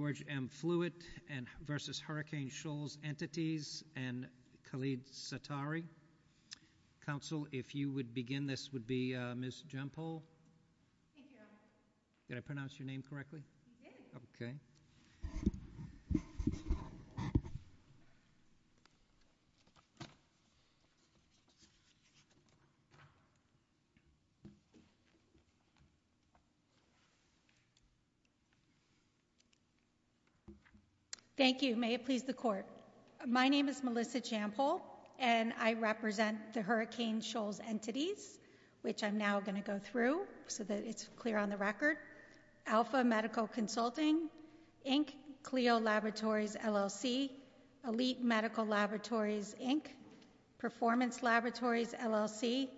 v. Hurricane Shoals Entities and Khalid Sattari. Counsel, if you would begin, this would be Ms. Jempol. Thank you. Did I pronounce your name correctly? Yes. Okay. Thank you. May it please the Court. My name is Melissa Jempol and I represent the Hurricane Shoals Entities, which I'm now going to go through so that it's clear on the record, Alpha Medical Consulting, Inc., Clio Laboratories, LLC, Elite Medical Laboratories, Inc., Performance Laboratories, LLC,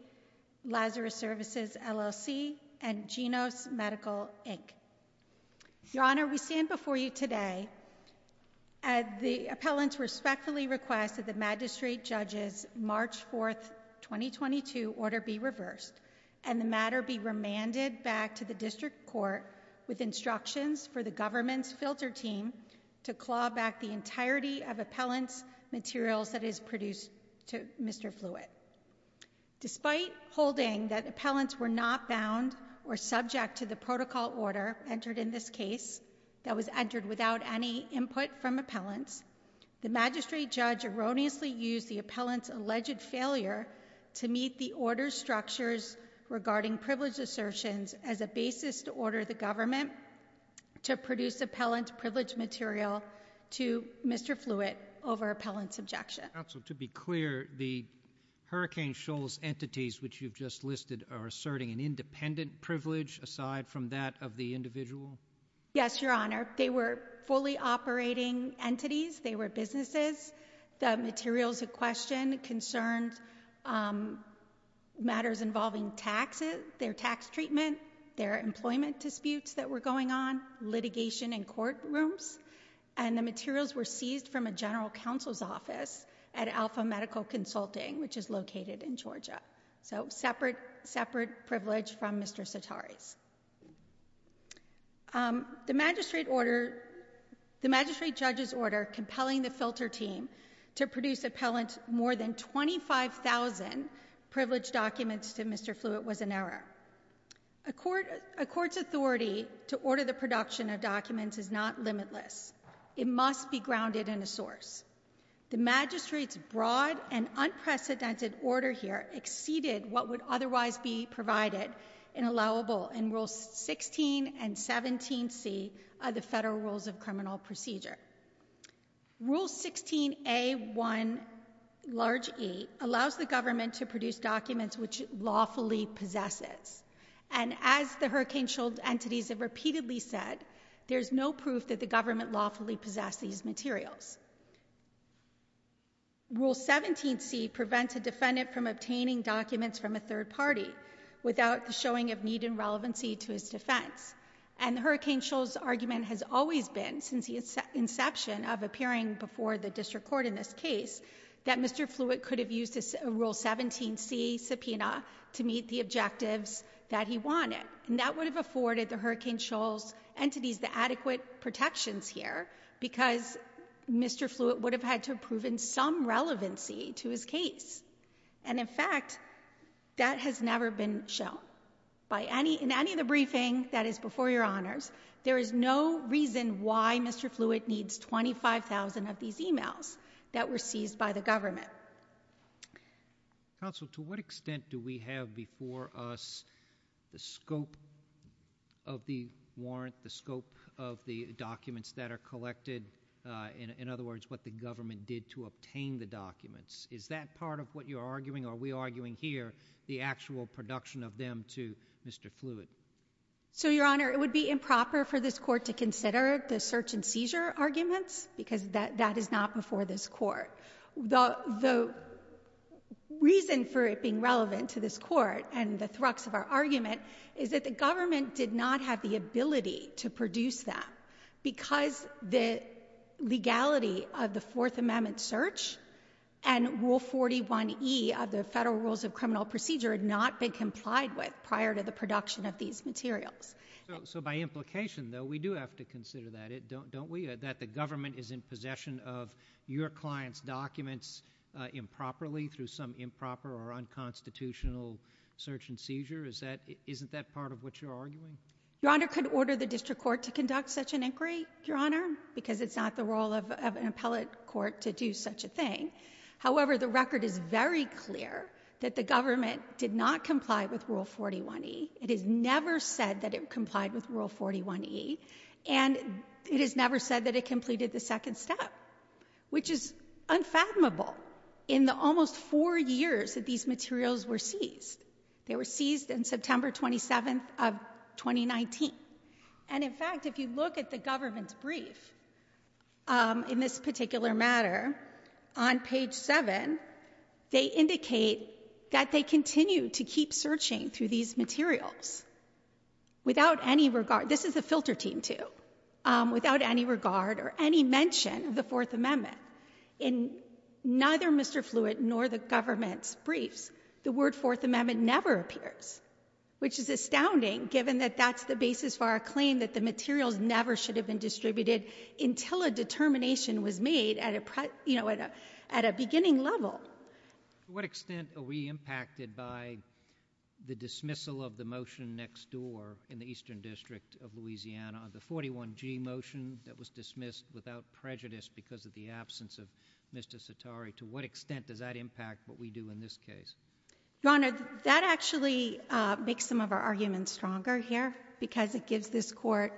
Lazarus Services, LLC, and Genos Medical, Inc. Your Honor, we stand before you today at the appellant's respectfully request that the magistrate judge's March 4, 2022, order be reversed and the matter be remanded back to the district court with instructions for the government's filter team to claw back the entirety of appellant's materials that is produced to Mr. Fluitt. Despite holding that appellants were not bound or subject to the protocol order entered in this case that was entered without any input from appellants, the magistrate judge erroneously used the appellant's alleged failure to meet the order's structures regarding privilege assertions as a basis to order the government to produce appellant's privileged material to Mr. Fluitt over appellant's objection. Counsel, to be clear, the Hurricane Shoals entities which you've just listed are asserting an independent privilege aside from that of the individual? Yes, Your Honor. They were fully operating entities. They were businesses. The materials in question concerned matters involving taxes, their tax treatment, their employment disputes that were going on, litigation in courtrooms, and the materials were seized from a general counsel's office at Alpha Medical Consulting which is located in Georgia. So separate privilege from Mr. Sotari's. The magistrate judge's order compelling the filter team to produce appellant's more than 25,000 privileged documents to Mr. Fluitt was an error. A court's authority to order the production of documents is not limitless. It must be grounded in a source. The magistrate's broad and unprecedented order here exceeded what would otherwise be provided and allowable in Rules 16 and 17C of the Federal Rules of Criminal Procedure. Rule 16A1, large E, allows the government to produce documents which it lawfully possesses. And as the Hurricane Shull entities have repeatedly said, there's no proof that the government lawfully possessed these materials. Rule 17C prevents a defendant from obtaining documents from a third party without the showing of need and relevancy to his defense. And Hurricane Shull's argument has always been, since the inception of appearing before the district court in this case, that Mr. Fluitt could have used a Rule 17C subpoena to meet the objectives that he wanted. And that would have afforded the Hurricane Shull's entities the adequate protections here because Mr. Fluitt would have had to have proven some relevancy to his case. And in fact, that has never been shown. In any of the briefing that is before Your Honors, there is no reason why Mr. Fluitt needs 25,000 of these emails that were seized by the government. Counsel, to what extent do we have before us the scope of the warrant, the scope of the documents that are collected, in other words, what the government did to obtain the documents? Is that part of what you're arguing, or are we arguing here, the actual production of them to Mr. Fluitt? So Your Honor, it would be improper for this court to consider the search and seizure arguments because that is not before this court. The reason for it being relevant to this court and the thrux of our argument is that the government did not have the ability to produce them because the legality of the Fourth Amendment search and Rule 41E of the Federal Rules of Criminal Procedure had not been complied with prior to the production of these materials. So by implication, though, we do have to consider that, don't we, that the government is in possession of your client's documents improperly through some improper or unconstitutional search and seizure? Isn't that part of what you're arguing? Your Honor, I couldn't order the district court to conduct such an inquiry, Your Honor, because it's not the role of an appellate court to do such a thing. However, the record is very clear that the government did not comply with Rule 41E. It is never said that it complied with Rule 41E, and it is never said that it completed the second step, which is unfathomable in the almost four years that these materials were seized. They were seized on September 27th of 2019. And in fact, if you look at the government's brief in this particular matter, on page 7, they indicate that they continue to keep searching through these materials without any regard. This is the filter team, too, without any regard or any mention of the Fourth Amendment. In neither Mr. Fluitt nor the government's briefs, the word Fourth Amendment never appears, which is astounding given that that's the basis for our claim that the materials never should have been distributed until a determination was made at a beginning level. To what extent are we impacted by the dismissal of the motion next door in the Eastern District of Louisiana, the 41G motion that was dismissed without prejudice because of the absence of Mr. Sitari? To what extent does that impact what we do in this case? Your Honor, that actually makes some of our arguments stronger here because it gives this court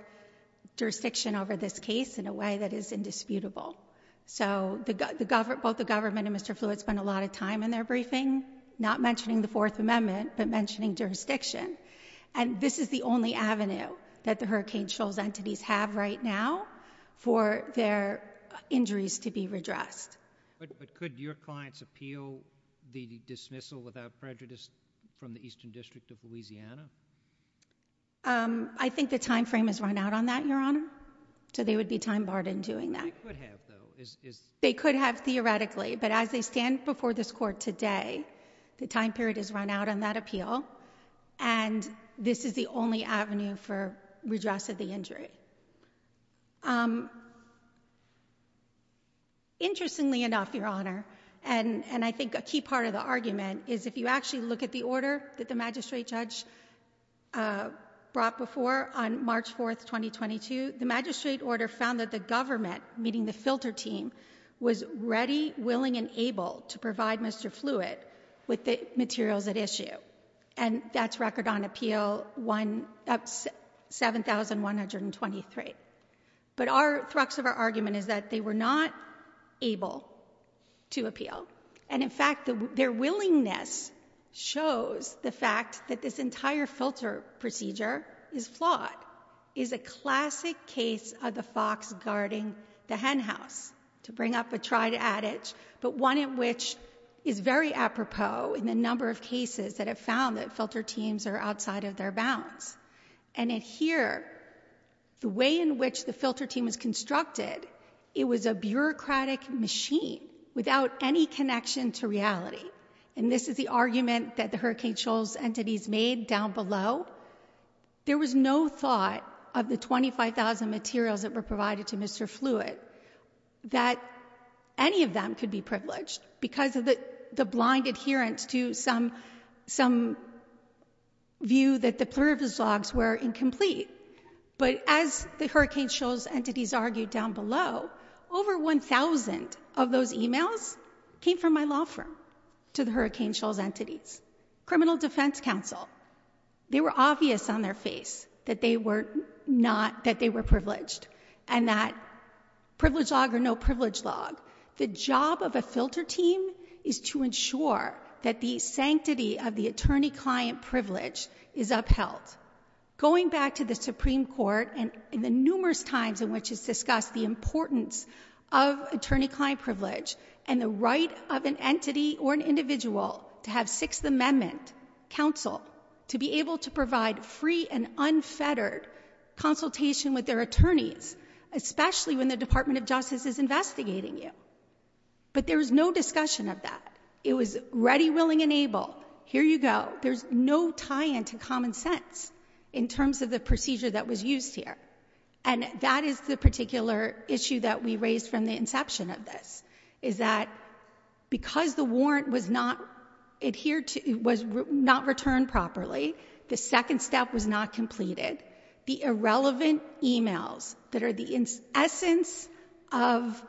jurisdiction over this case in a way that is indisputable. So both the government and Mr. Fluitt spend a lot of time in their briefing not mentioning the Fourth Amendment but mentioning jurisdiction. And this is the only avenue that the Hurricane Shoals entities have right now for their injuries to be redressed. But could your clients appeal the dismissal without prejudice from the Eastern District of Louisiana? I think the time frame has run out on that, Your Honor. So they would be time-barred in doing that. They could have, though. They could have theoretically, but as they stand before this court today, the time period has run out on that appeal, and this is the only avenue for redress of the injury. Interestingly enough, Your Honor, and I think a key part of the argument is if you actually look at the order that the magistrate judge brought before on March 4, 2022, the magistrate order found that the government, meaning the filter team, was ready, willing, and able to provide Mr. Fluitt with the materials at issue. And that's record on appeal 7123. But the thrux of our argument is that they were not able to appeal. And in fact, their willingness shows the fact that this entire filter procedure is flawed, is a classic case of the fox guarding the hen house to bring up a tried adage, but one in which is very apropos in the number of cases that have found that filter teams are outside of their bounds. And in here, the way in which the filter team was constructed, it was a bureaucratic machine without any connection to reality. And this is the argument that the Hurricane Shoals entities made down below. There was no thought of the 25,000 materials that were provided to Mr. Fluitt that any of them could be privileged because of the blind adherence to some view that the plurivis logs were incomplete. But as the Hurricane Shoals entities argued down below, over 1,000 of those e-mails came from my law firm to the Hurricane Shoals entities. Criminal Defense Counsel, they were obvious on their face that they were not, that they were privileged and that privilege log or no privilege log. The job of a filter team is to ensure that the sanctity of the attorney-client privilege is upheld. Going back to the Supreme Court and the numerous times in which it's discussed the importance of attorney-client privilege and the right of an entity or an individual to have Sixth Amendment counsel to be able to provide free and unfettered consultation with their attorneys, especially when the Department of Justice is investigating you. But there was no discussion of that. It was ready, willing, and able. Here you go. There's no tie-in to common sense in terms of the procedure that was used here. And that is the particular issue that we raised from the inception of this, is that because the warrant was not adhered to, was not returned properly, the second step was not completed, the irrelevant e-mails that are the essence of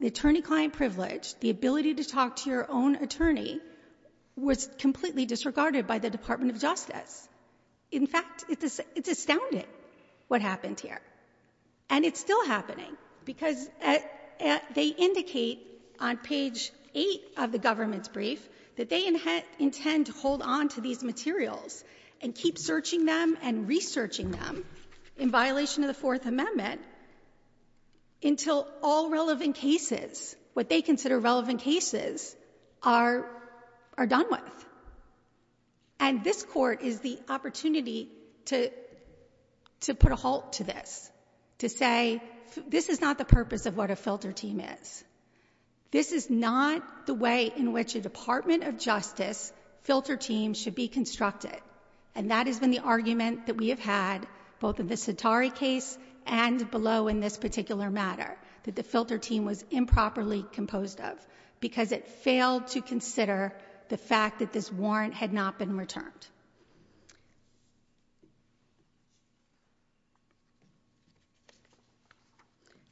the attorney-client privilege, the ability to talk to your own attorney, was completely disregarded by the Department of Justice. In fact, it's astounding what happened here. And it's still happening because they indicate on page 8 of the government's brief that they intend to hold on to these materials and keep searching them and researching them in violation of the Fourth Amendment until all relevant cases, what they consider relevant cases, are done with. And this Court is the opportunity to put a halt to this, to say, this is not the purpose of what a filter team is. This is not the way in which a Department of Justice filter team should be constructed. And that has been the argument that we have had, both in the Sitari case and below in this particular matter, that the filter team was improperly composed of because it failed to consider the fact that this warrant had not been returned.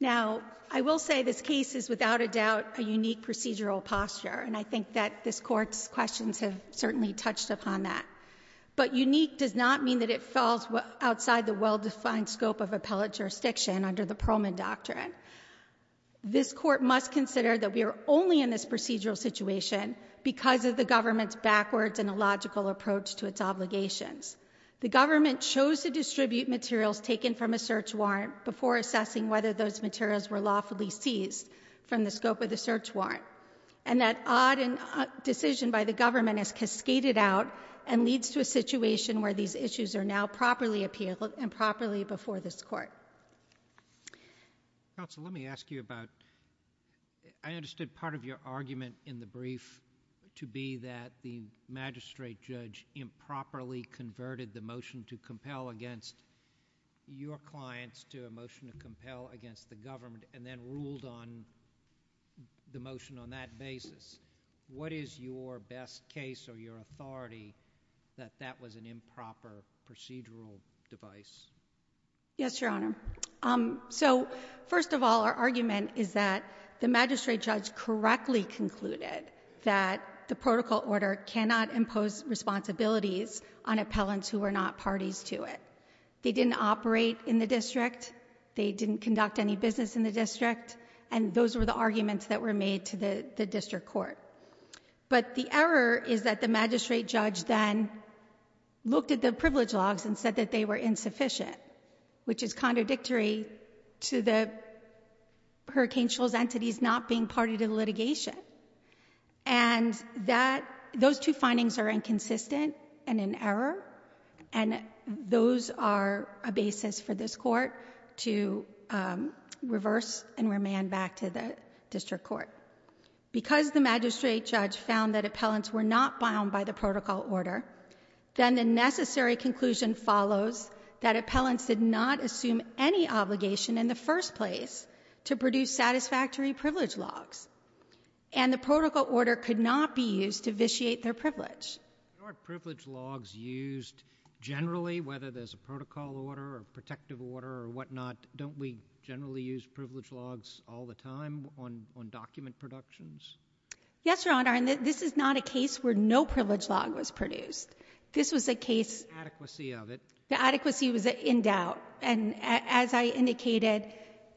Now, I will say this case is without a doubt a unique procedural posture, and I think that this Court's questions have certainly touched upon that. But unique does not mean that it falls outside the well-defined scope of appellate jurisdiction under the Perlman Doctrine. This Court must consider that we are only in this procedural situation because of the government's backwards and illogical approach to its obligations. The government chose to distribute materials taken from a search warrant before assessing whether those materials were lawfully seized from the scope of the search warrant. And that odd decision by the government has cascaded out and leads to a situation where these issues are now properly appealed and properly before this Court. Counsel, let me ask you about... I understood part of your argument in the brief to be that the magistrate judge improperly converted the motion to compel against your clients to a motion to compel against the government and then ruled on the motion on that basis. What is your best case or your authority that that was an improper procedural device? Yes, Your Honor. So, first of all, our argument is that the magistrate judge correctly concluded that the protocol order cannot impose responsibilities on appellants who are not parties to it. They didn't operate in the district. They didn't conduct any business in the district. And those were the arguments that were made to the district court. But the error is that the magistrate judge then looked at the privilege logs and said that they were insufficient, which is contradictory to the Hurricane Shoals entities not being party to the litigation. And those two findings are inconsistent and in error, and those are a basis for this Court to reverse and remand back to the district court. Because the magistrate judge found that appellants were not bound by the protocol order, then the necessary conclusion follows that appellants did not assume any obligation in the first place to produce satisfactory privilege logs, and the protocol order could not be used to vitiate their privilege. Aren't privilege logs used generally, whether there's a protocol order or protective order or whatnot? Don't we generally use privilege logs all the time on document productions? Yes, Your Honor, and this is not a case where no privilege log was produced. This was a case... The adequacy of it. The adequacy was in doubt. And as I indicated,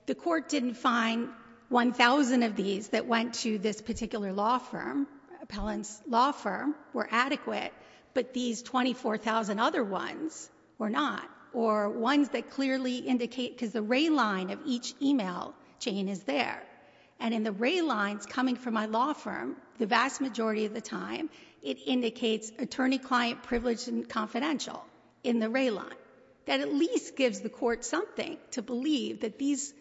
the Court didn't find 1,000 of these that went to this particular law firm, appellant's law firm, were adequate, but these 24,000 other ones were not, or ones that clearly indicate... Because the ray line of each e-mail chain is there, and in the ray lines coming from my law firm, the vast majority of the time, it indicates attorney-client privilege and confidential in the ray line. That at least gives the Court something to believe that these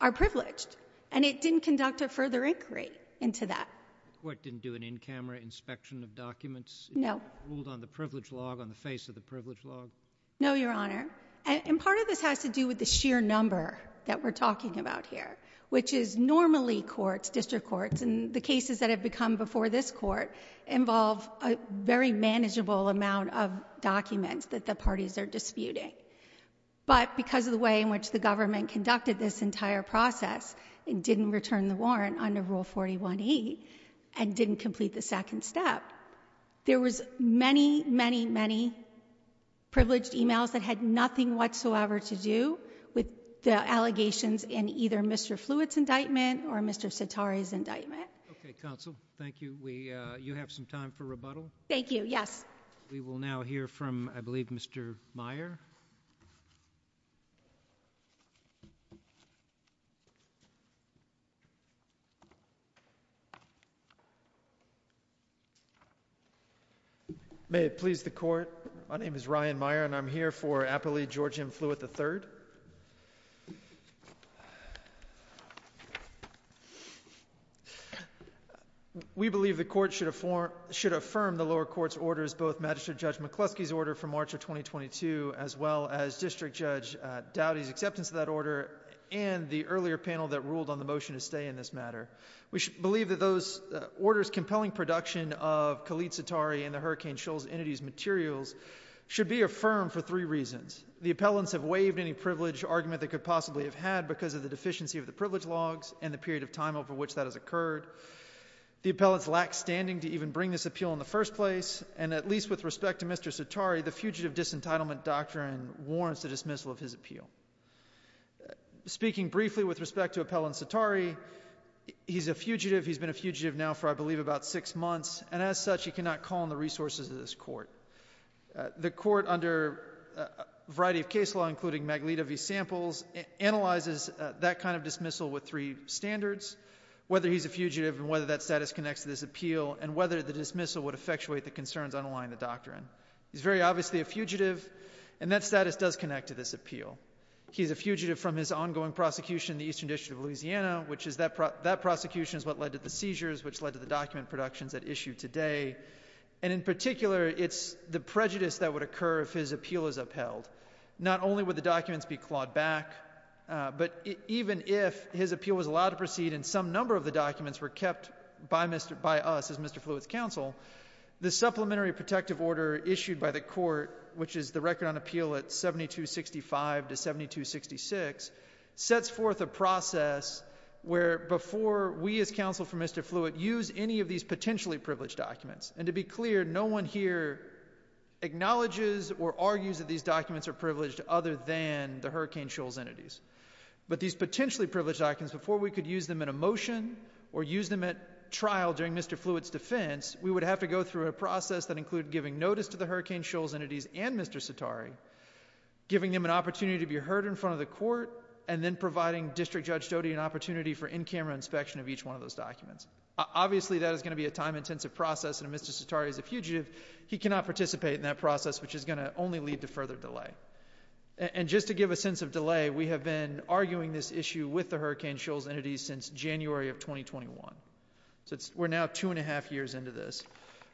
are privileged, and it didn't conduct a further inquiry into that. The Court didn't do an in-camera inspection of documents? No. It ruled on the privilege log, on the face of the privilege log? No, Your Honor. And part of this has to do with the sheer number that we're talking about here, which is normally courts, district courts, and the cases that have become before this Court involve a very manageable amount of documents that the parties are disputing. But because of the way in which the government conducted this entire process and didn't return the warrant under Rule 41e and didn't complete the second step, there was many, many, many privileged e-mails that had nothing whatsoever to do with the allegations in either Mr. Fluitt's indictment or Mr. Sitari's indictment. Okay, counsel. Thank you. We... You have some time for rebuttal? Thank you, yes. We will now hear from, I believe, Mr. Meyer. May it please the Court, my name is Ryan Meyer and I'm here for Appellee George M. Fluitt III. We believe the Court should affirm the lower court's orders both Magistrate Judge McCluskey's order from March of 2022 as well as District Judge Dowdy's acceptance of that order and the earlier panel that ruled on the motion to stay in this matter. We believe that those orders' compelling production of Khalid Sitari and the Hurricane Shoals entities' materials should be affirmed for three reasons. The appellants have waived any privileged argument they could possibly have had because of the deficiency of the privilege logs and the period of time over which that has occurred. The appellants lack standing to even bring this appeal in the first place, and at least with respect to Mr. Sitari, the Fugitive Disentitlement Doctrine warrants the dismissal of his appeal. Speaking briefly with respect to Appellant Sitari, he's a fugitive, he's been a fugitive now for, I believe, about six months, and as such, he cannot call on the resources of this Court. The Court, under a variety of case law, including Maglita v. Samples, analyzes that kind of dismissal with three standards, whether he's a fugitive and whether that status connects to this appeal and whether the dismissal would effectuate the concerns underlying the doctrine. He's very obviously a fugitive, and that status does connect to this appeal. He's a fugitive from his ongoing prosecution in the Eastern District of Louisiana, which is that prosecution is what led to the seizures, which led to the document productions at issue today, and in particular, it's the prejudice that would occur if his appeal is upheld. Not only would the documents be clawed back, but even if his appeal was allowed to proceed and some number of the documents were kept by us, as Mr. Fluitt's counsel, the Supplementary Protective Order issued by the Court, which is the Record on Appeal at 7265 to 7266, sets forth a process where before we as counsel for Mr. Fluitt use any of these potentially privileged documents, and to be clear, no one here acknowledges or argues that these documents are privileged other than the Hurricane Shulz entities, but these potentially privileged documents, before we could use them in a motion or use them at trial during Mr. Fluitt's defense, we would have to go through a process that included giving notice to the Hurricane Shulz entities and Mr. Sitari, giving them an opportunity to be heard in front of the Court, and then providing District Judge Doty an opportunity for in-camera inspection of each one of those documents. Obviously, that is going to be a time-intensive process, and if Mr. Sitari is a fugitive, he cannot participate in that process, which is going to only lead to further delay. And just to give a sense of delay, we have been arguing this issue with the Hurricane Shulz entities since January of 2021. So we're now 2 1⁄2 years into this.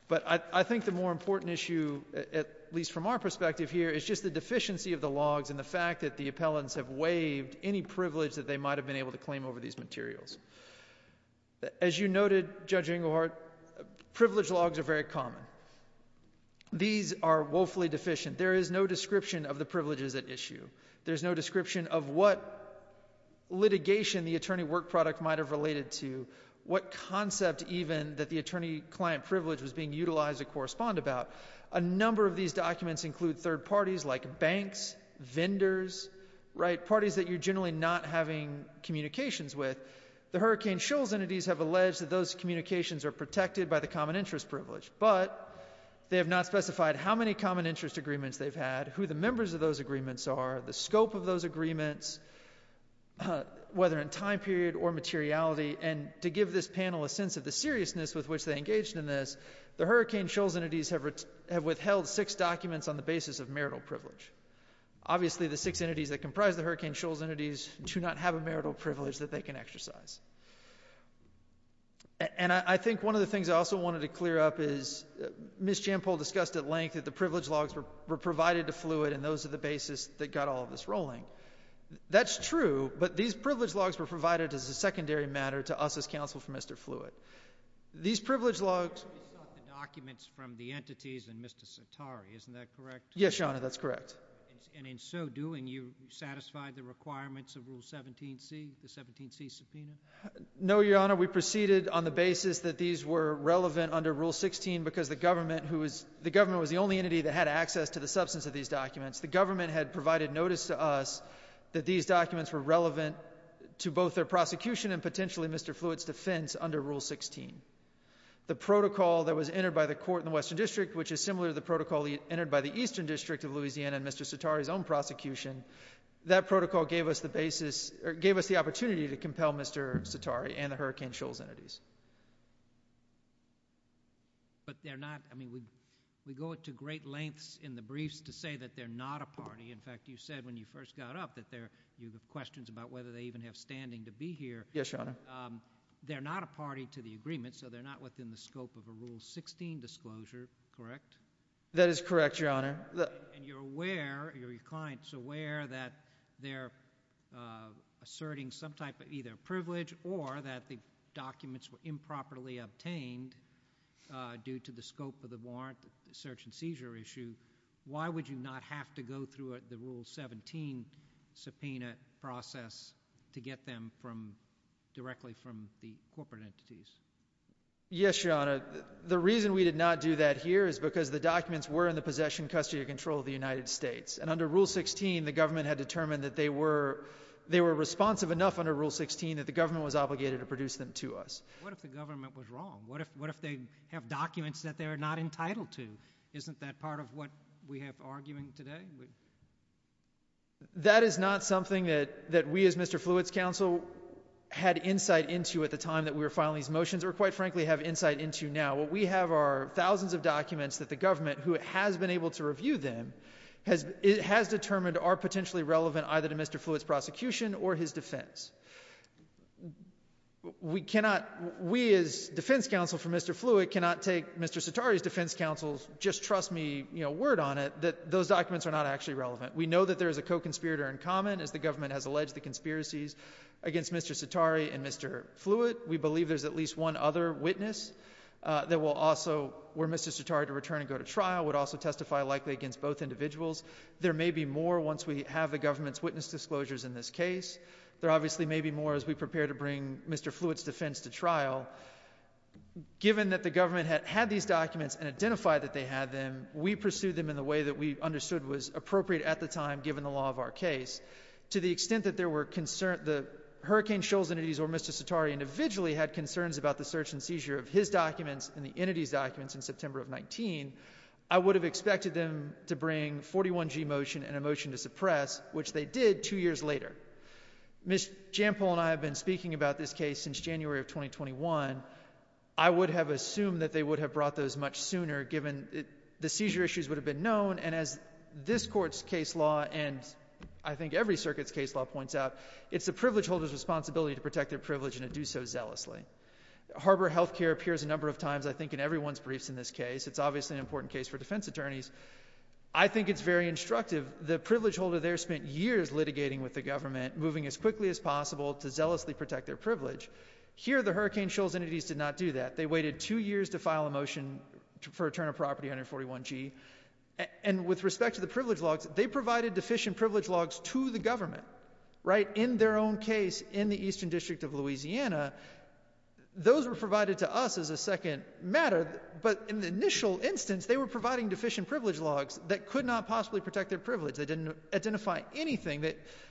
But I think the more important issue, at least from our perspective here, is just the deficiency of the logs and the fact that the appellants have waived any privilege that they might have been able to claim over these materials. As you noted, Judge Engelhardt, privilege logs are very common. These are woefully deficient. There is no description of the privileges at issue. There's no description of what litigation the attorney work product might have related to, what concept even that the attorney-client privilege was being utilized to correspond about. A number of these documents include third parties like banks, vendors, right, parties that you're generally not having communications with. The Hurricane Shulz entities have alleged that those communications are protected by the common-interest privilege, but they have not specified how many common-interest agreements they've had, who the members of those agreements are, the scope of those agreements, whether in time period or materiality, and to give this panel a sense of the seriousness with which they engaged in this, the Hurricane Shulz entities have withheld six documents on the basis of marital privilege. Obviously, the six entities that comprise the Hurricane Shulz entities do not have a marital privilege that they can exercise. And I think one of the things I also wanted to clear up is Ms. Jampol discussed at length that the privilege logs were provided to Fluid and those are the basis that got all of this rolling. That's true, but these privilege logs were provided as a secondary matter to us as counsel for Mr. Fluid. These privilege logs... ...the documents from the entities and Mr. Satari, isn't that correct? Yes, Your Honor, that's correct. And in so doing, you satisfied the requirements of Rule 17C, the 17C subpoena? No, Your Honor, we proceeded on the basis that these were relevant under Rule 16 because the government was the only entity that had access to the substance of these documents. The government had provided notice to us that these documents were relevant to both their prosecution and potentially Mr. Fluid's defense under Rule 16. The protocol that was entered by the court in the Western District, which is similar to the protocol entered by the Eastern District of Louisiana and Mr. Satari's own prosecution, that protocol gave us the opportunity to compel Mr. Satari and the Hurricane Shulz entities. But they're not... I mean, we go to great lengths in the briefs to say that they're not a party. In fact, you said when you first got up that you have questions about whether they even have standing to be here. Yes, Your Honor. They're not a party to the agreement, so they're not within the scope of a Rule 16 disclosure, correct? That is correct, Your Honor. And you're aware, your client's aware that they're asserting some type of either privilege or that the documents were improperly obtained due to the scope of the warrant, the search and seizure issue. Why would you not have to go through the Rule 17 subpoena process to get them directly from the corporate entities? Yes, Your Honor. The reason we did not do that here is because the documents were in the possession, custody, or control of the United States. And under Rule 16, the government had determined that they were responsive enough under Rule 16 that the government was obligated to produce them to us. What if the government was wrong? What if they have documents that they're not entitled to? Isn't that part of what we have arguing today? That is not something that we as Mr. Fluitt's counsel had insight into at the time that we were filing these motions, or quite frankly have insight into now. What we have are thousands of documents that the government, who has been able to review them, has determined are potentially relevant either to Mr. Fluitt's prosecution or his defense. We cannot, we as defense counsel for Mr. Fluitt, cannot take Mr. Cetari's defense counsel's just trust me word on it, that those documents are not actually relevant. We know that there is a co-conspirator in common, as the government has alleged the conspiracies against Mr. Cetari and Mr. Fluitt. We believe there's at least one other witness that will also, were Mr. Cetari to return and go to trial, would also testify likely against both individuals. There may be more once we have the government's witness disclosures in this case. There obviously may be more as we prepare to bring Mr. Fluitt's defense to trial. Given that the government had these documents and identified that they had them, we pursued them in the way that we understood was appropriate at the time given the law of our case. To the extent that there were concerns, the Hurricane Shoals entities or Mr. Cetari individually had concerns about the search and seizure of his documents and the entities' documents in September of 19, I would have expected them to bring 41G motion and a motion to suppress, which they did two years later. Ms. Jampol and I have been speaking about this case since January of 2021. I would have assumed that they would have brought those much sooner, given the seizure issues would have been known and as this court's case law and I think every circuit's case law points out, it's the privilege holder's responsibility to protect their privilege and to do so zealously. Harbor Health Care appears a number of times, I think, in everyone's briefs in this case. It's obviously an important case for defense attorneys. I think it's very instructive. The privilege holder there spent years litigating with the government, moving as quickly as possible to zealously protect their privilege. Here the Hurricane Shoals entities did not do that. They waited two years to file a motion for a turn of property under 41G and with respect to the privilege logs, they provided deficient privilege logs to the government in their own case in the Eastern District of Louisiana. Those were provided to us as a second matter, but in the initial instance, they were providing deficient privilege logs that could not possibly protect their privilege. They didn't identify anything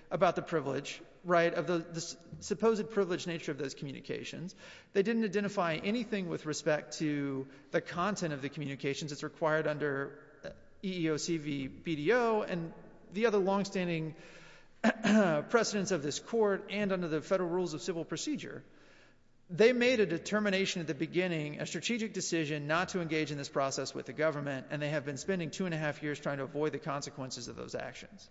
about the privilege of the supposed privileged nature of those communications. They didn't identify anything with respect to the content of the communications that's required under EEOC BDO and the other longstanding precedents of this court and under the Federal Rules of Civil Procedure. They made a determination at the beginning, a strategic decision not to engage in this process with the government and they have been spending two and a half years trying to avoid the consequences of those actions.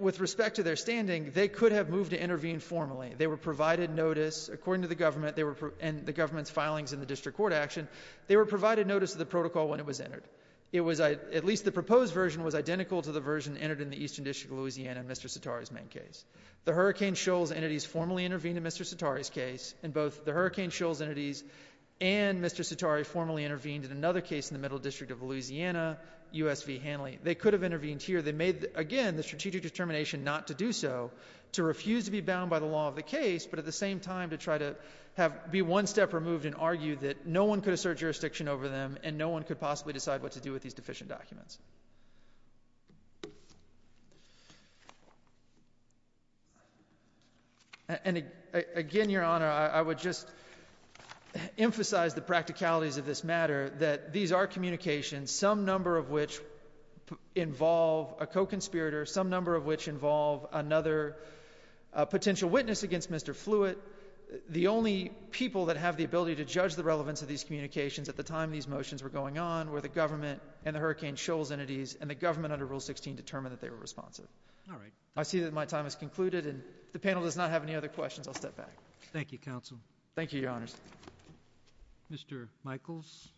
With respect to their standing, they could have moved to intervene formally. They were provided notice, according to the government and the government's filings in the district court action, they were provided notice of the protocol when it was entered. At least the proposed version was identical to the version entered in the Eastern District of Louisiana and Mr. Sitari's main case. The Hurricane Shoals entities formally intervened in Mr. Sitari's case and both the Hurricane Shoals entities and Mr. Sitari formally intervened in another case in the Middle District of Louisiana, USV Hanley. They could have intervened here. They made, again, the strategic determination not to do so, to refuse to be bound by the law of the case, but at the same time to try to be one step removed and argue that no one could assert jurisdiction over them and no one could possibly decide what to do with these deficient documents. And again, Your Honor, I would just emphasize the practicalities of this matter that these are communications, some number of which involve a co-conspirator, some number of which involve another potential witness against Mr. Fluitt, the only people that have the ability to judge the relevance of these communications at the time these motions were going on were the government and the Hurricane Shoals entities and the government under Rule 16 determined that they were responsive. All right. I see that my time has concluded and if the panel does not have any other questions, I'll step back. Thank you, Counsel. Thank you, Your Honors. Mr. Michaels?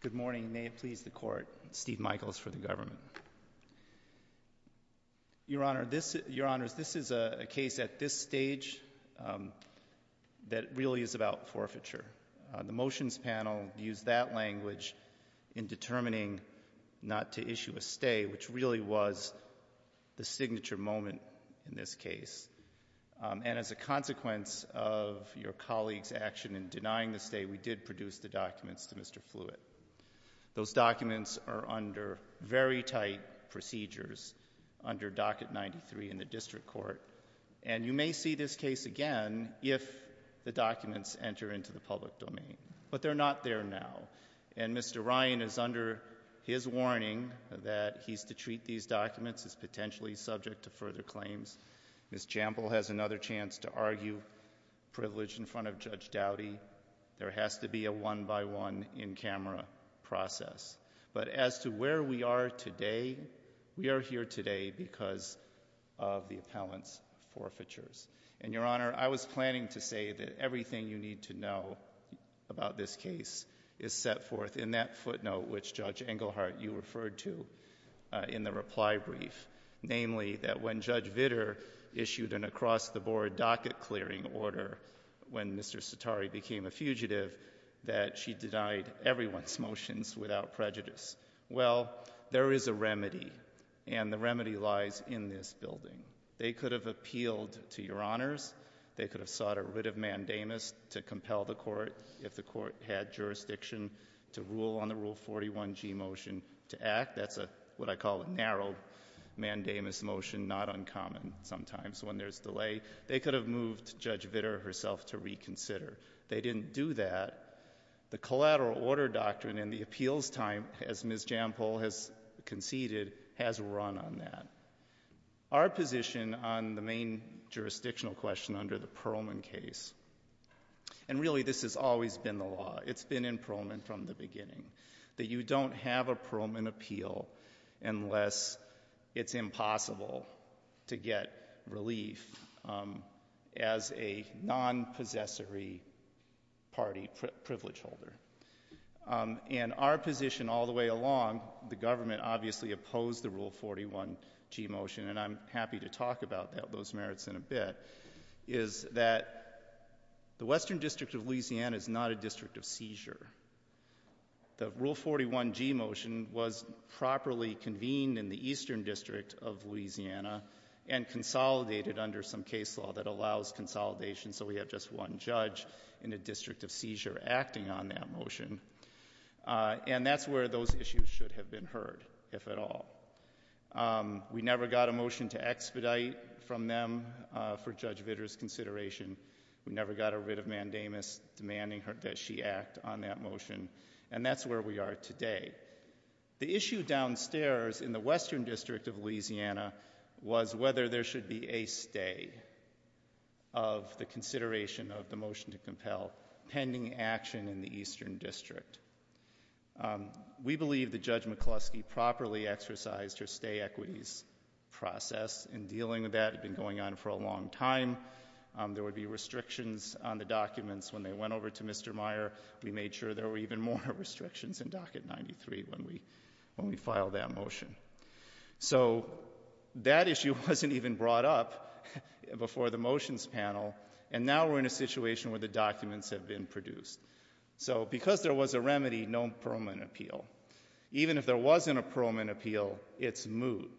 Good morning. May it please the Court, Steve Michaels for the government. Your Honor, this is a case at this stage that really is about forfeiture. The motions panel used that language in determining not to issue a stay, which really was the signature moment in this case. And as a consequence of your colleague's action in denying the stay, we did produce the documents to Mr. Fluitt. Those documents are under very tight procedures under Docket 93 in the District Court. And you may see this case again if the documents enter into the public domain. But they're not there now. And Mr. Ryan is under his warning that he's to treat these documents as potentially subject to further claims. Ms. Jampol has another chance to argue privilege in front of Judge Dowdy. There has to be a one-by-one, in-camera process. But as to where we are today, we are here today because of the appellant's forfeitures. And, Your Honor, I was planning to say that everything you need to know about this case is set forth in that footnote which Judge Engelhardt, you referred to in the reply brief. Namely, that when Judge Vitter issued an across-the-board docket clearing order when Mr. Sitari became a fugitive, that she denied everyone's motions without prejudice. Well, there is a remedy. And the remedy lies in this building. They could have appealed to Your Honors. They could have sought a writ of mandamus to compel the Court if the Court had jurisdiction to rule on the Rule 41G motion to act. That's a, what I call a narrow mandamus motion, not uncommon sometimes when there's delay. They could have moved Judge Vitter herself to reconsider. They didn't do that. The collateral order doctrine in the case has conceded, has run on that. Our position on the main jurisdictional question under the Pearlman case, and really this has always been the law, it's been in Pearlman from the beginning, that you don't have a Pearlman appeal unless it's impossible to get relief as a non-possessory party privilege holder. And our position all the way along, the government obviously opposed the Rule 41G motion, and I'm happy to talk about those merits in a bit, is that the Western District of Louisiana is not a district of seizure. The Rule 41G motion was properly convened in the Eastern District of Louisiana and consolidated under some case law that allows consolidation so we have just one judge in a motion, and that's where those issues should have been heard if at all. We never got a motion to expedite from them for Judge Vitter's consideration. We never got a writ of mandamus demanding that she act on that motion, and that's where we are today. The issue downstairs in the Western District of Louisiana was whether there should be a stay of the consideration of the motion to compel pending action in the Eastern District. We believe that Judge McCluskey properly exercised her stay equities process in dealing with that. It had been going on for a long time. There would be restrictions on the documents when they went over to Mr. Meyer. We made sure there were even more restrictions in Docket 93 when we filed that motion. So, that issue wasn't even brought up before the motions panel, and now we're in a situation where the documents have been produced. Because there was a remedy, no Pearlman appeal. Even if there wasn't a Pearlman appeal, it's moot.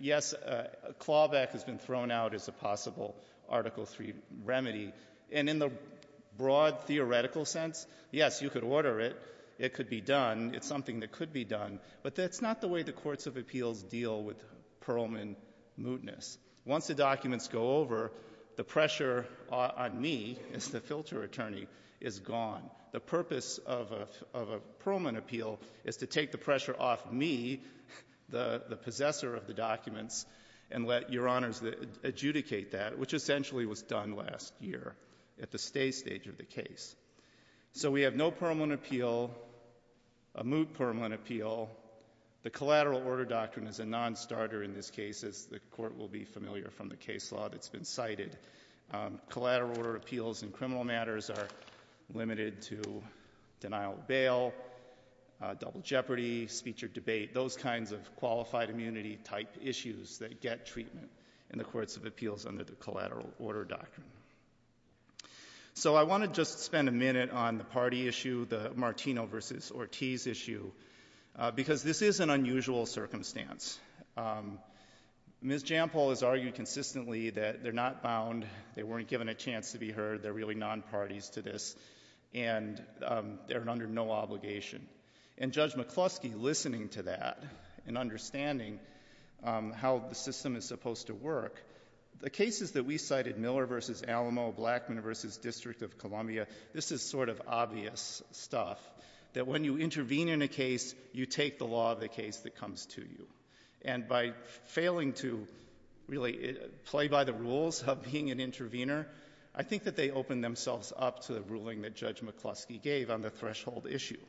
Yes, a clawback has been thrown out as a possible Article 3 remedy, and in the broad theoretical sense, yes, you could order it. It could be done. It's something that could be done, but that's not the way the courts of appeals deal with Pearlman mootness. Once the documents go over, the pressure on me as the filter attorney is gone. The purpose of a Pearlman appeal is to take the pressure off me, the possessor of the documents, and let Your Honors adjudicate that, which essentially was done last year at the stay stage of the case. So, we have no Pearlman appeal, a moot Pearlman appeal. The collateral order doctrine is a non-starter in this case, as the court will be familiar from the case law that's been cited. Collateral order appeals in criminal matters are limited to denial of bail, double jeopardy, speech or debate, those kinds of qualified immunity-type issues that get treatment in the courts of appeals under the collateral order doctrine. So, I want to just spend a minute on the party issue, the Martino v. Ortiz issue, because this is an unusual circumstance. Ms. Jampol has argued consistently that they're not bound, they weren't given a chance to be heard, they're really non-parties to this, and they're under no obligation. And Judge McCluskey, listening to that and understanding how the system is supposed to work, the cases that we cited, Miller v. Alamo, Blackman v. District of Columbia, this is sort of obvious stuff, that when you intervene in a case, you take the law of the case that comes to you. And by failing to really play by the rules of being an intervener, I think that they opened themselves up to the ruling that Judge McCluskey gave on the threshold issue.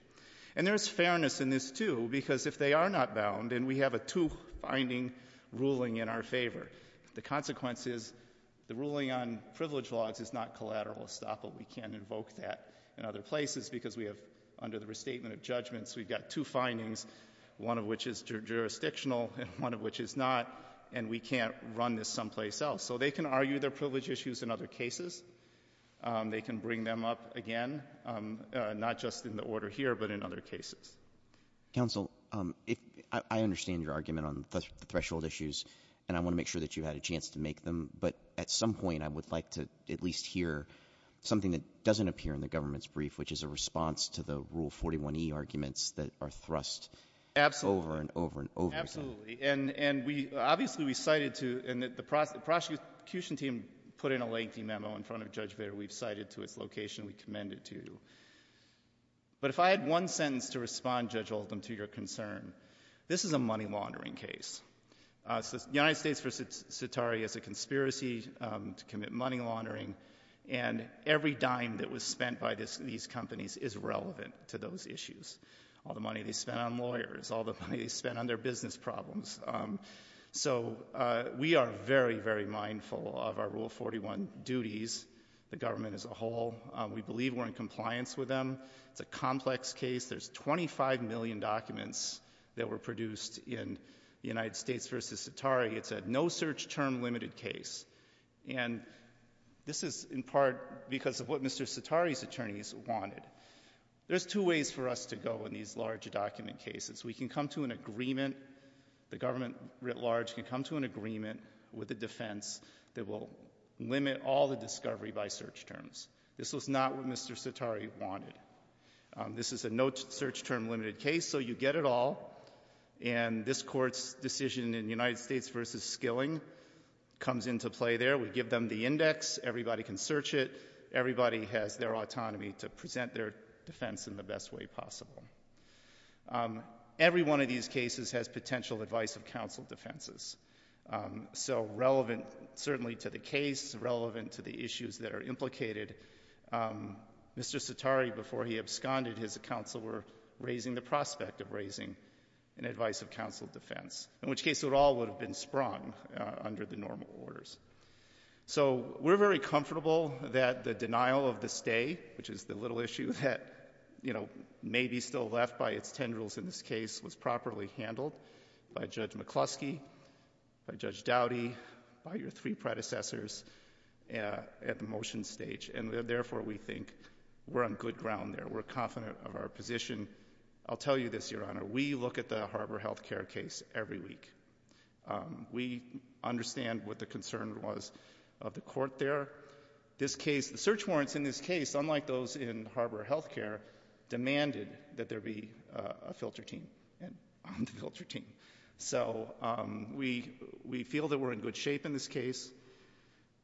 And there's fairness in this too, because if they are not bound, and we have a two-finding ruling in our favor, the consequence is the ruling on privilege laws is not collateral estoppel, we can't invoke that in other places because we have, under the restatement of judgments, we've got two findings, one of which is jurisdictional, and one of which is not, and we can't run this someplace else. So they can argue their privilege issues in other cases, they can bring them up again, not just in the order here, but in other cases. I understand your argument on the threshold issues, and I want to make sure that you had a chance to make them, but at some point I would like to at least hear something that doesn't appear in the government's brief, which is a response to the Rule 41e arguments that are thrust over and over and over again. Absolutely, and obviously we cited to, and the prosecution team put in a lengthy memo in front of Judge Bader, we've cited to its location, we commend it to. But if I had one sentence to respond, Judge Oldham, to your concern, this is a money laundering case. The United States v. Sitari is a conspiracy to commit money laundering, and every dime that was spent by these companies is relevant to those issues. All the money they spent on lawyers, all the money they spent on their business problems. So we are very, very mindful of our Rule 41 duties, the government as a whole. We believe we're in compliance with them. It's a complex case. There's 25 million documents that were produced in the United States v. Sitari. It's a no search term limited case, and this is in part because of what Mr. Sitari's attorneys wanted. There's two ways for us to go in these large document cases. We can come to an agreement, the government writ large can come to an agreement with the defense that will limit all the discovery by search terms. This was not what Mr. Sitari wanted. This is a no search term limited case, so you get it all, and this Court's decision in the United States v. Skilling comes into play there. We give them the index, everybody can search it, everybody has their autonomy to present their defense in the best way possible. Every one of these cases has potential advice of counsel defenses. So relevant certainly to the case, relevant to the issues that are implicated, counsel were raising the prospect of raising an advice of counsel defense, in which case it all would have been sprung under the normal orders. So we're very comfortable that the denial of the stay, which is the little issue that may be still left by its tendrils in this case, was properly handled by Judge McCluskey, by Judge Dowdy, by your three predecessors at the motion stage, and therefore we think we're on good ground there. We're confident of our position. I'll tell you this, Your Honor, we look at the Harbor Health Care case every week. We understand what the concern was of the court there. The search warrants in this case, unlike those in Harbor Health Care, demanded that there be a filter team. So we feel that we're in good shape in this case.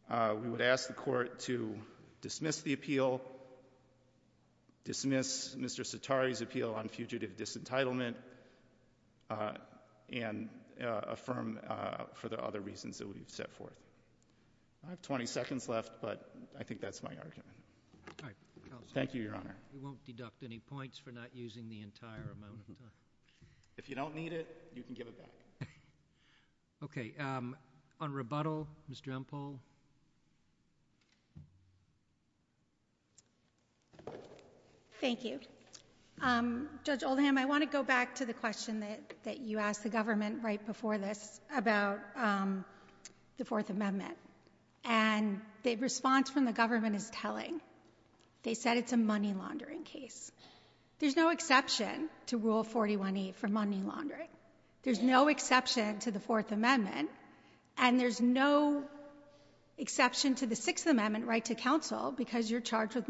We would ask the court to dismiss the appeal, dismiss Mr. McCluskey's legitimate disentitlement, and affirm for the other reasons that we've set forth. I have 20 seconds left, but I think that's my argument. Thank you, Your Honor. We won't deduct any points for not using the entire amount of time. If you don't need it, you can give it back. Okay. On rebuttal, Ms. Drempel? Thank you. Judge Oldham, I want to go back to the question that you asked the government right before this about the Fourth Amendment. The response from the government is telling. They said it's a money laundering case. There's no exception to Rule 41E for money laundering. There's no exception to the Fourth Amendment, and there's no exception to the Sixth Amendment right to counsel because you're charged with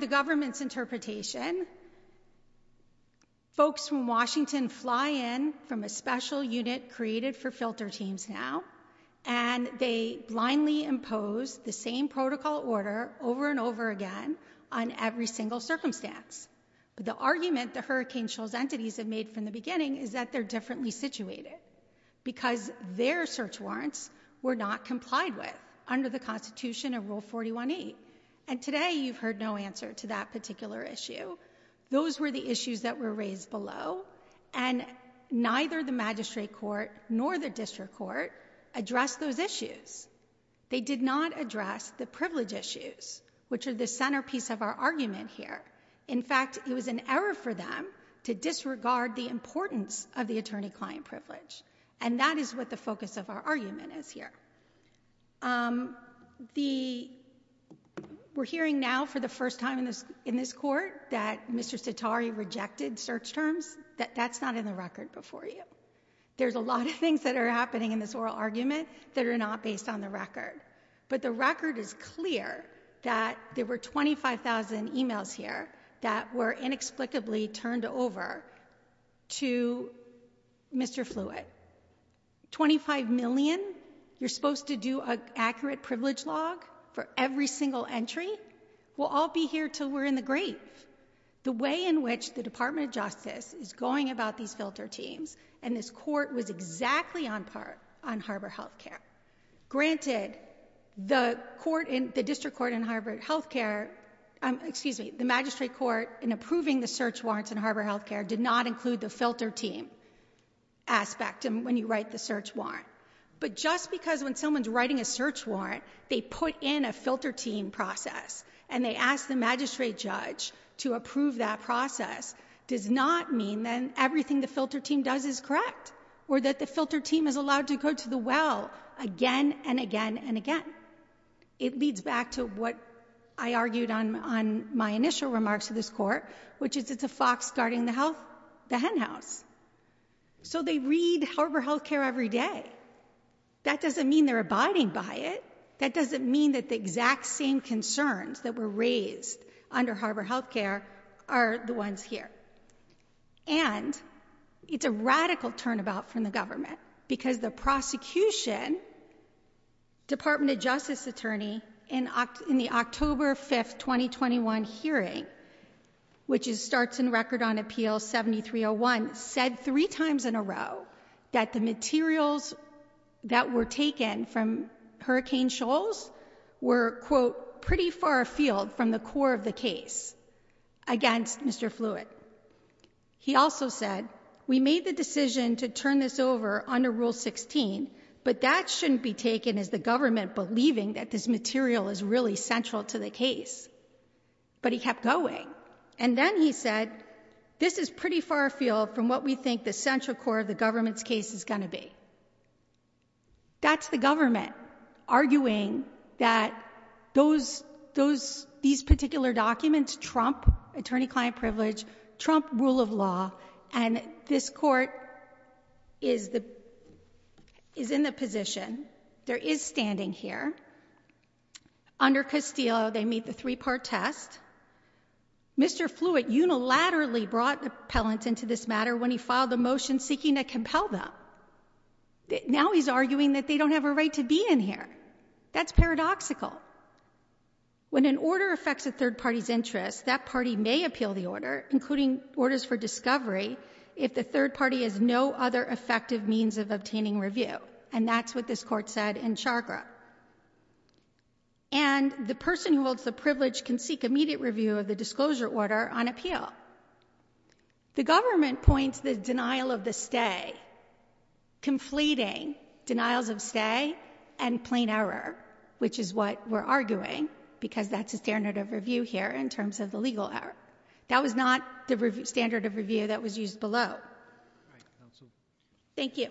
the government's interpretation. Folks from Washington fly in from a special unit created for filter teams now, and they blindly impose the same protocol order over and over again on every single circumstance. The argument that Hurricane Shell's entities have made from the beginning is that they're differently situated because their search warrants were not complied with under the Constitution of Rule 41E. Today, you've heard no answer to that particular issue. Those were the issues that were raised below, and neither the magistrate court nor the district court addressed those issues. They did not address the privilege issues, which are the centerpiece of our argument here. In fact, it was an error for them to disregard the importance of the attorney-client privilege, and that is what the focus of our argument is here. We're hearing now for the first time in this court that Mr. Cetari rejected search terms. That's not in the record before you. There's a lot of things that are happening in this oral argument that are not based on the record, but the record is clear that there were 25,000 emails here that were inexplicably turned over to Mr. Fluitt. 25 million? You're supposed to do an accurate privilege log for every single entry? We'll all be here until we're in the grave. The way in which the Department of Justice is going about these filter teams, and this court was exactly on harbor health care. Granted, the district court in harbor health care excuse me, the magistrate court in approving the search warrants in harbor health care did not include the filter team aspect when you write the search warrant, but just because when someone's writing a search warrant, they put in a filter team process and they ask the magistrate judge to approve that process does not mean then everything the filter team does is correct or that the filter team is allowed to go to the well again and again and again. It leads back to what I argued on my initial remarks to this court which is it's a fox guarding the hen house. So they read harbor health care every day. That doesn't mean they're abiding by it. That doesn't mean that the exact same concerns that were raised under harbor health care are the ones here. And it's a radical turnabout from the government because the prosecution Department of Justice attorney in the October 5th 2021 hearing which starts in record on appeal 7301 said three times in a row that the materials that were taken from Hurricane Shoals were quote pretty far afield from the core of the case against Mr. Fluitt. He also said we made the decision to turn this over under rule 16, but that shouldn't be taken as the government believing that this material is really central to the case. But he kept going. And then he said this is pretty far afield from what we think the central core of the government's case is going to be. That's the government arguing that those these particular documents trump attorney client privilege, trump rule of law, and this court is in the position, there is standing here under Castillo they meet the three-part test. Mr. Fluitt unilaterally brought appellant into this matter when he filed a motion seeking to compel them. Now he's arguing that they don't have a right to be in here. That's paradoxical. When an order affects a third party's interest, that party may appeal the order, including orders for discovery, if the third party has no other effective means of obtaining review. And that's what this court said in Chagra. And the person who holds the privilege can seek immediate review of the disclosure order on appeal. The government points the denial of the stay conflating denials of stay and plain error, which is what we're arguing because that's a standard of review here in terms of the legal error. That was not the standard of review that was used below. Thank you.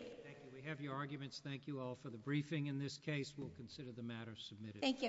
We have your arguments. Thank you all for the briefing. In this case, we'll consider the matter submitted. Thank you.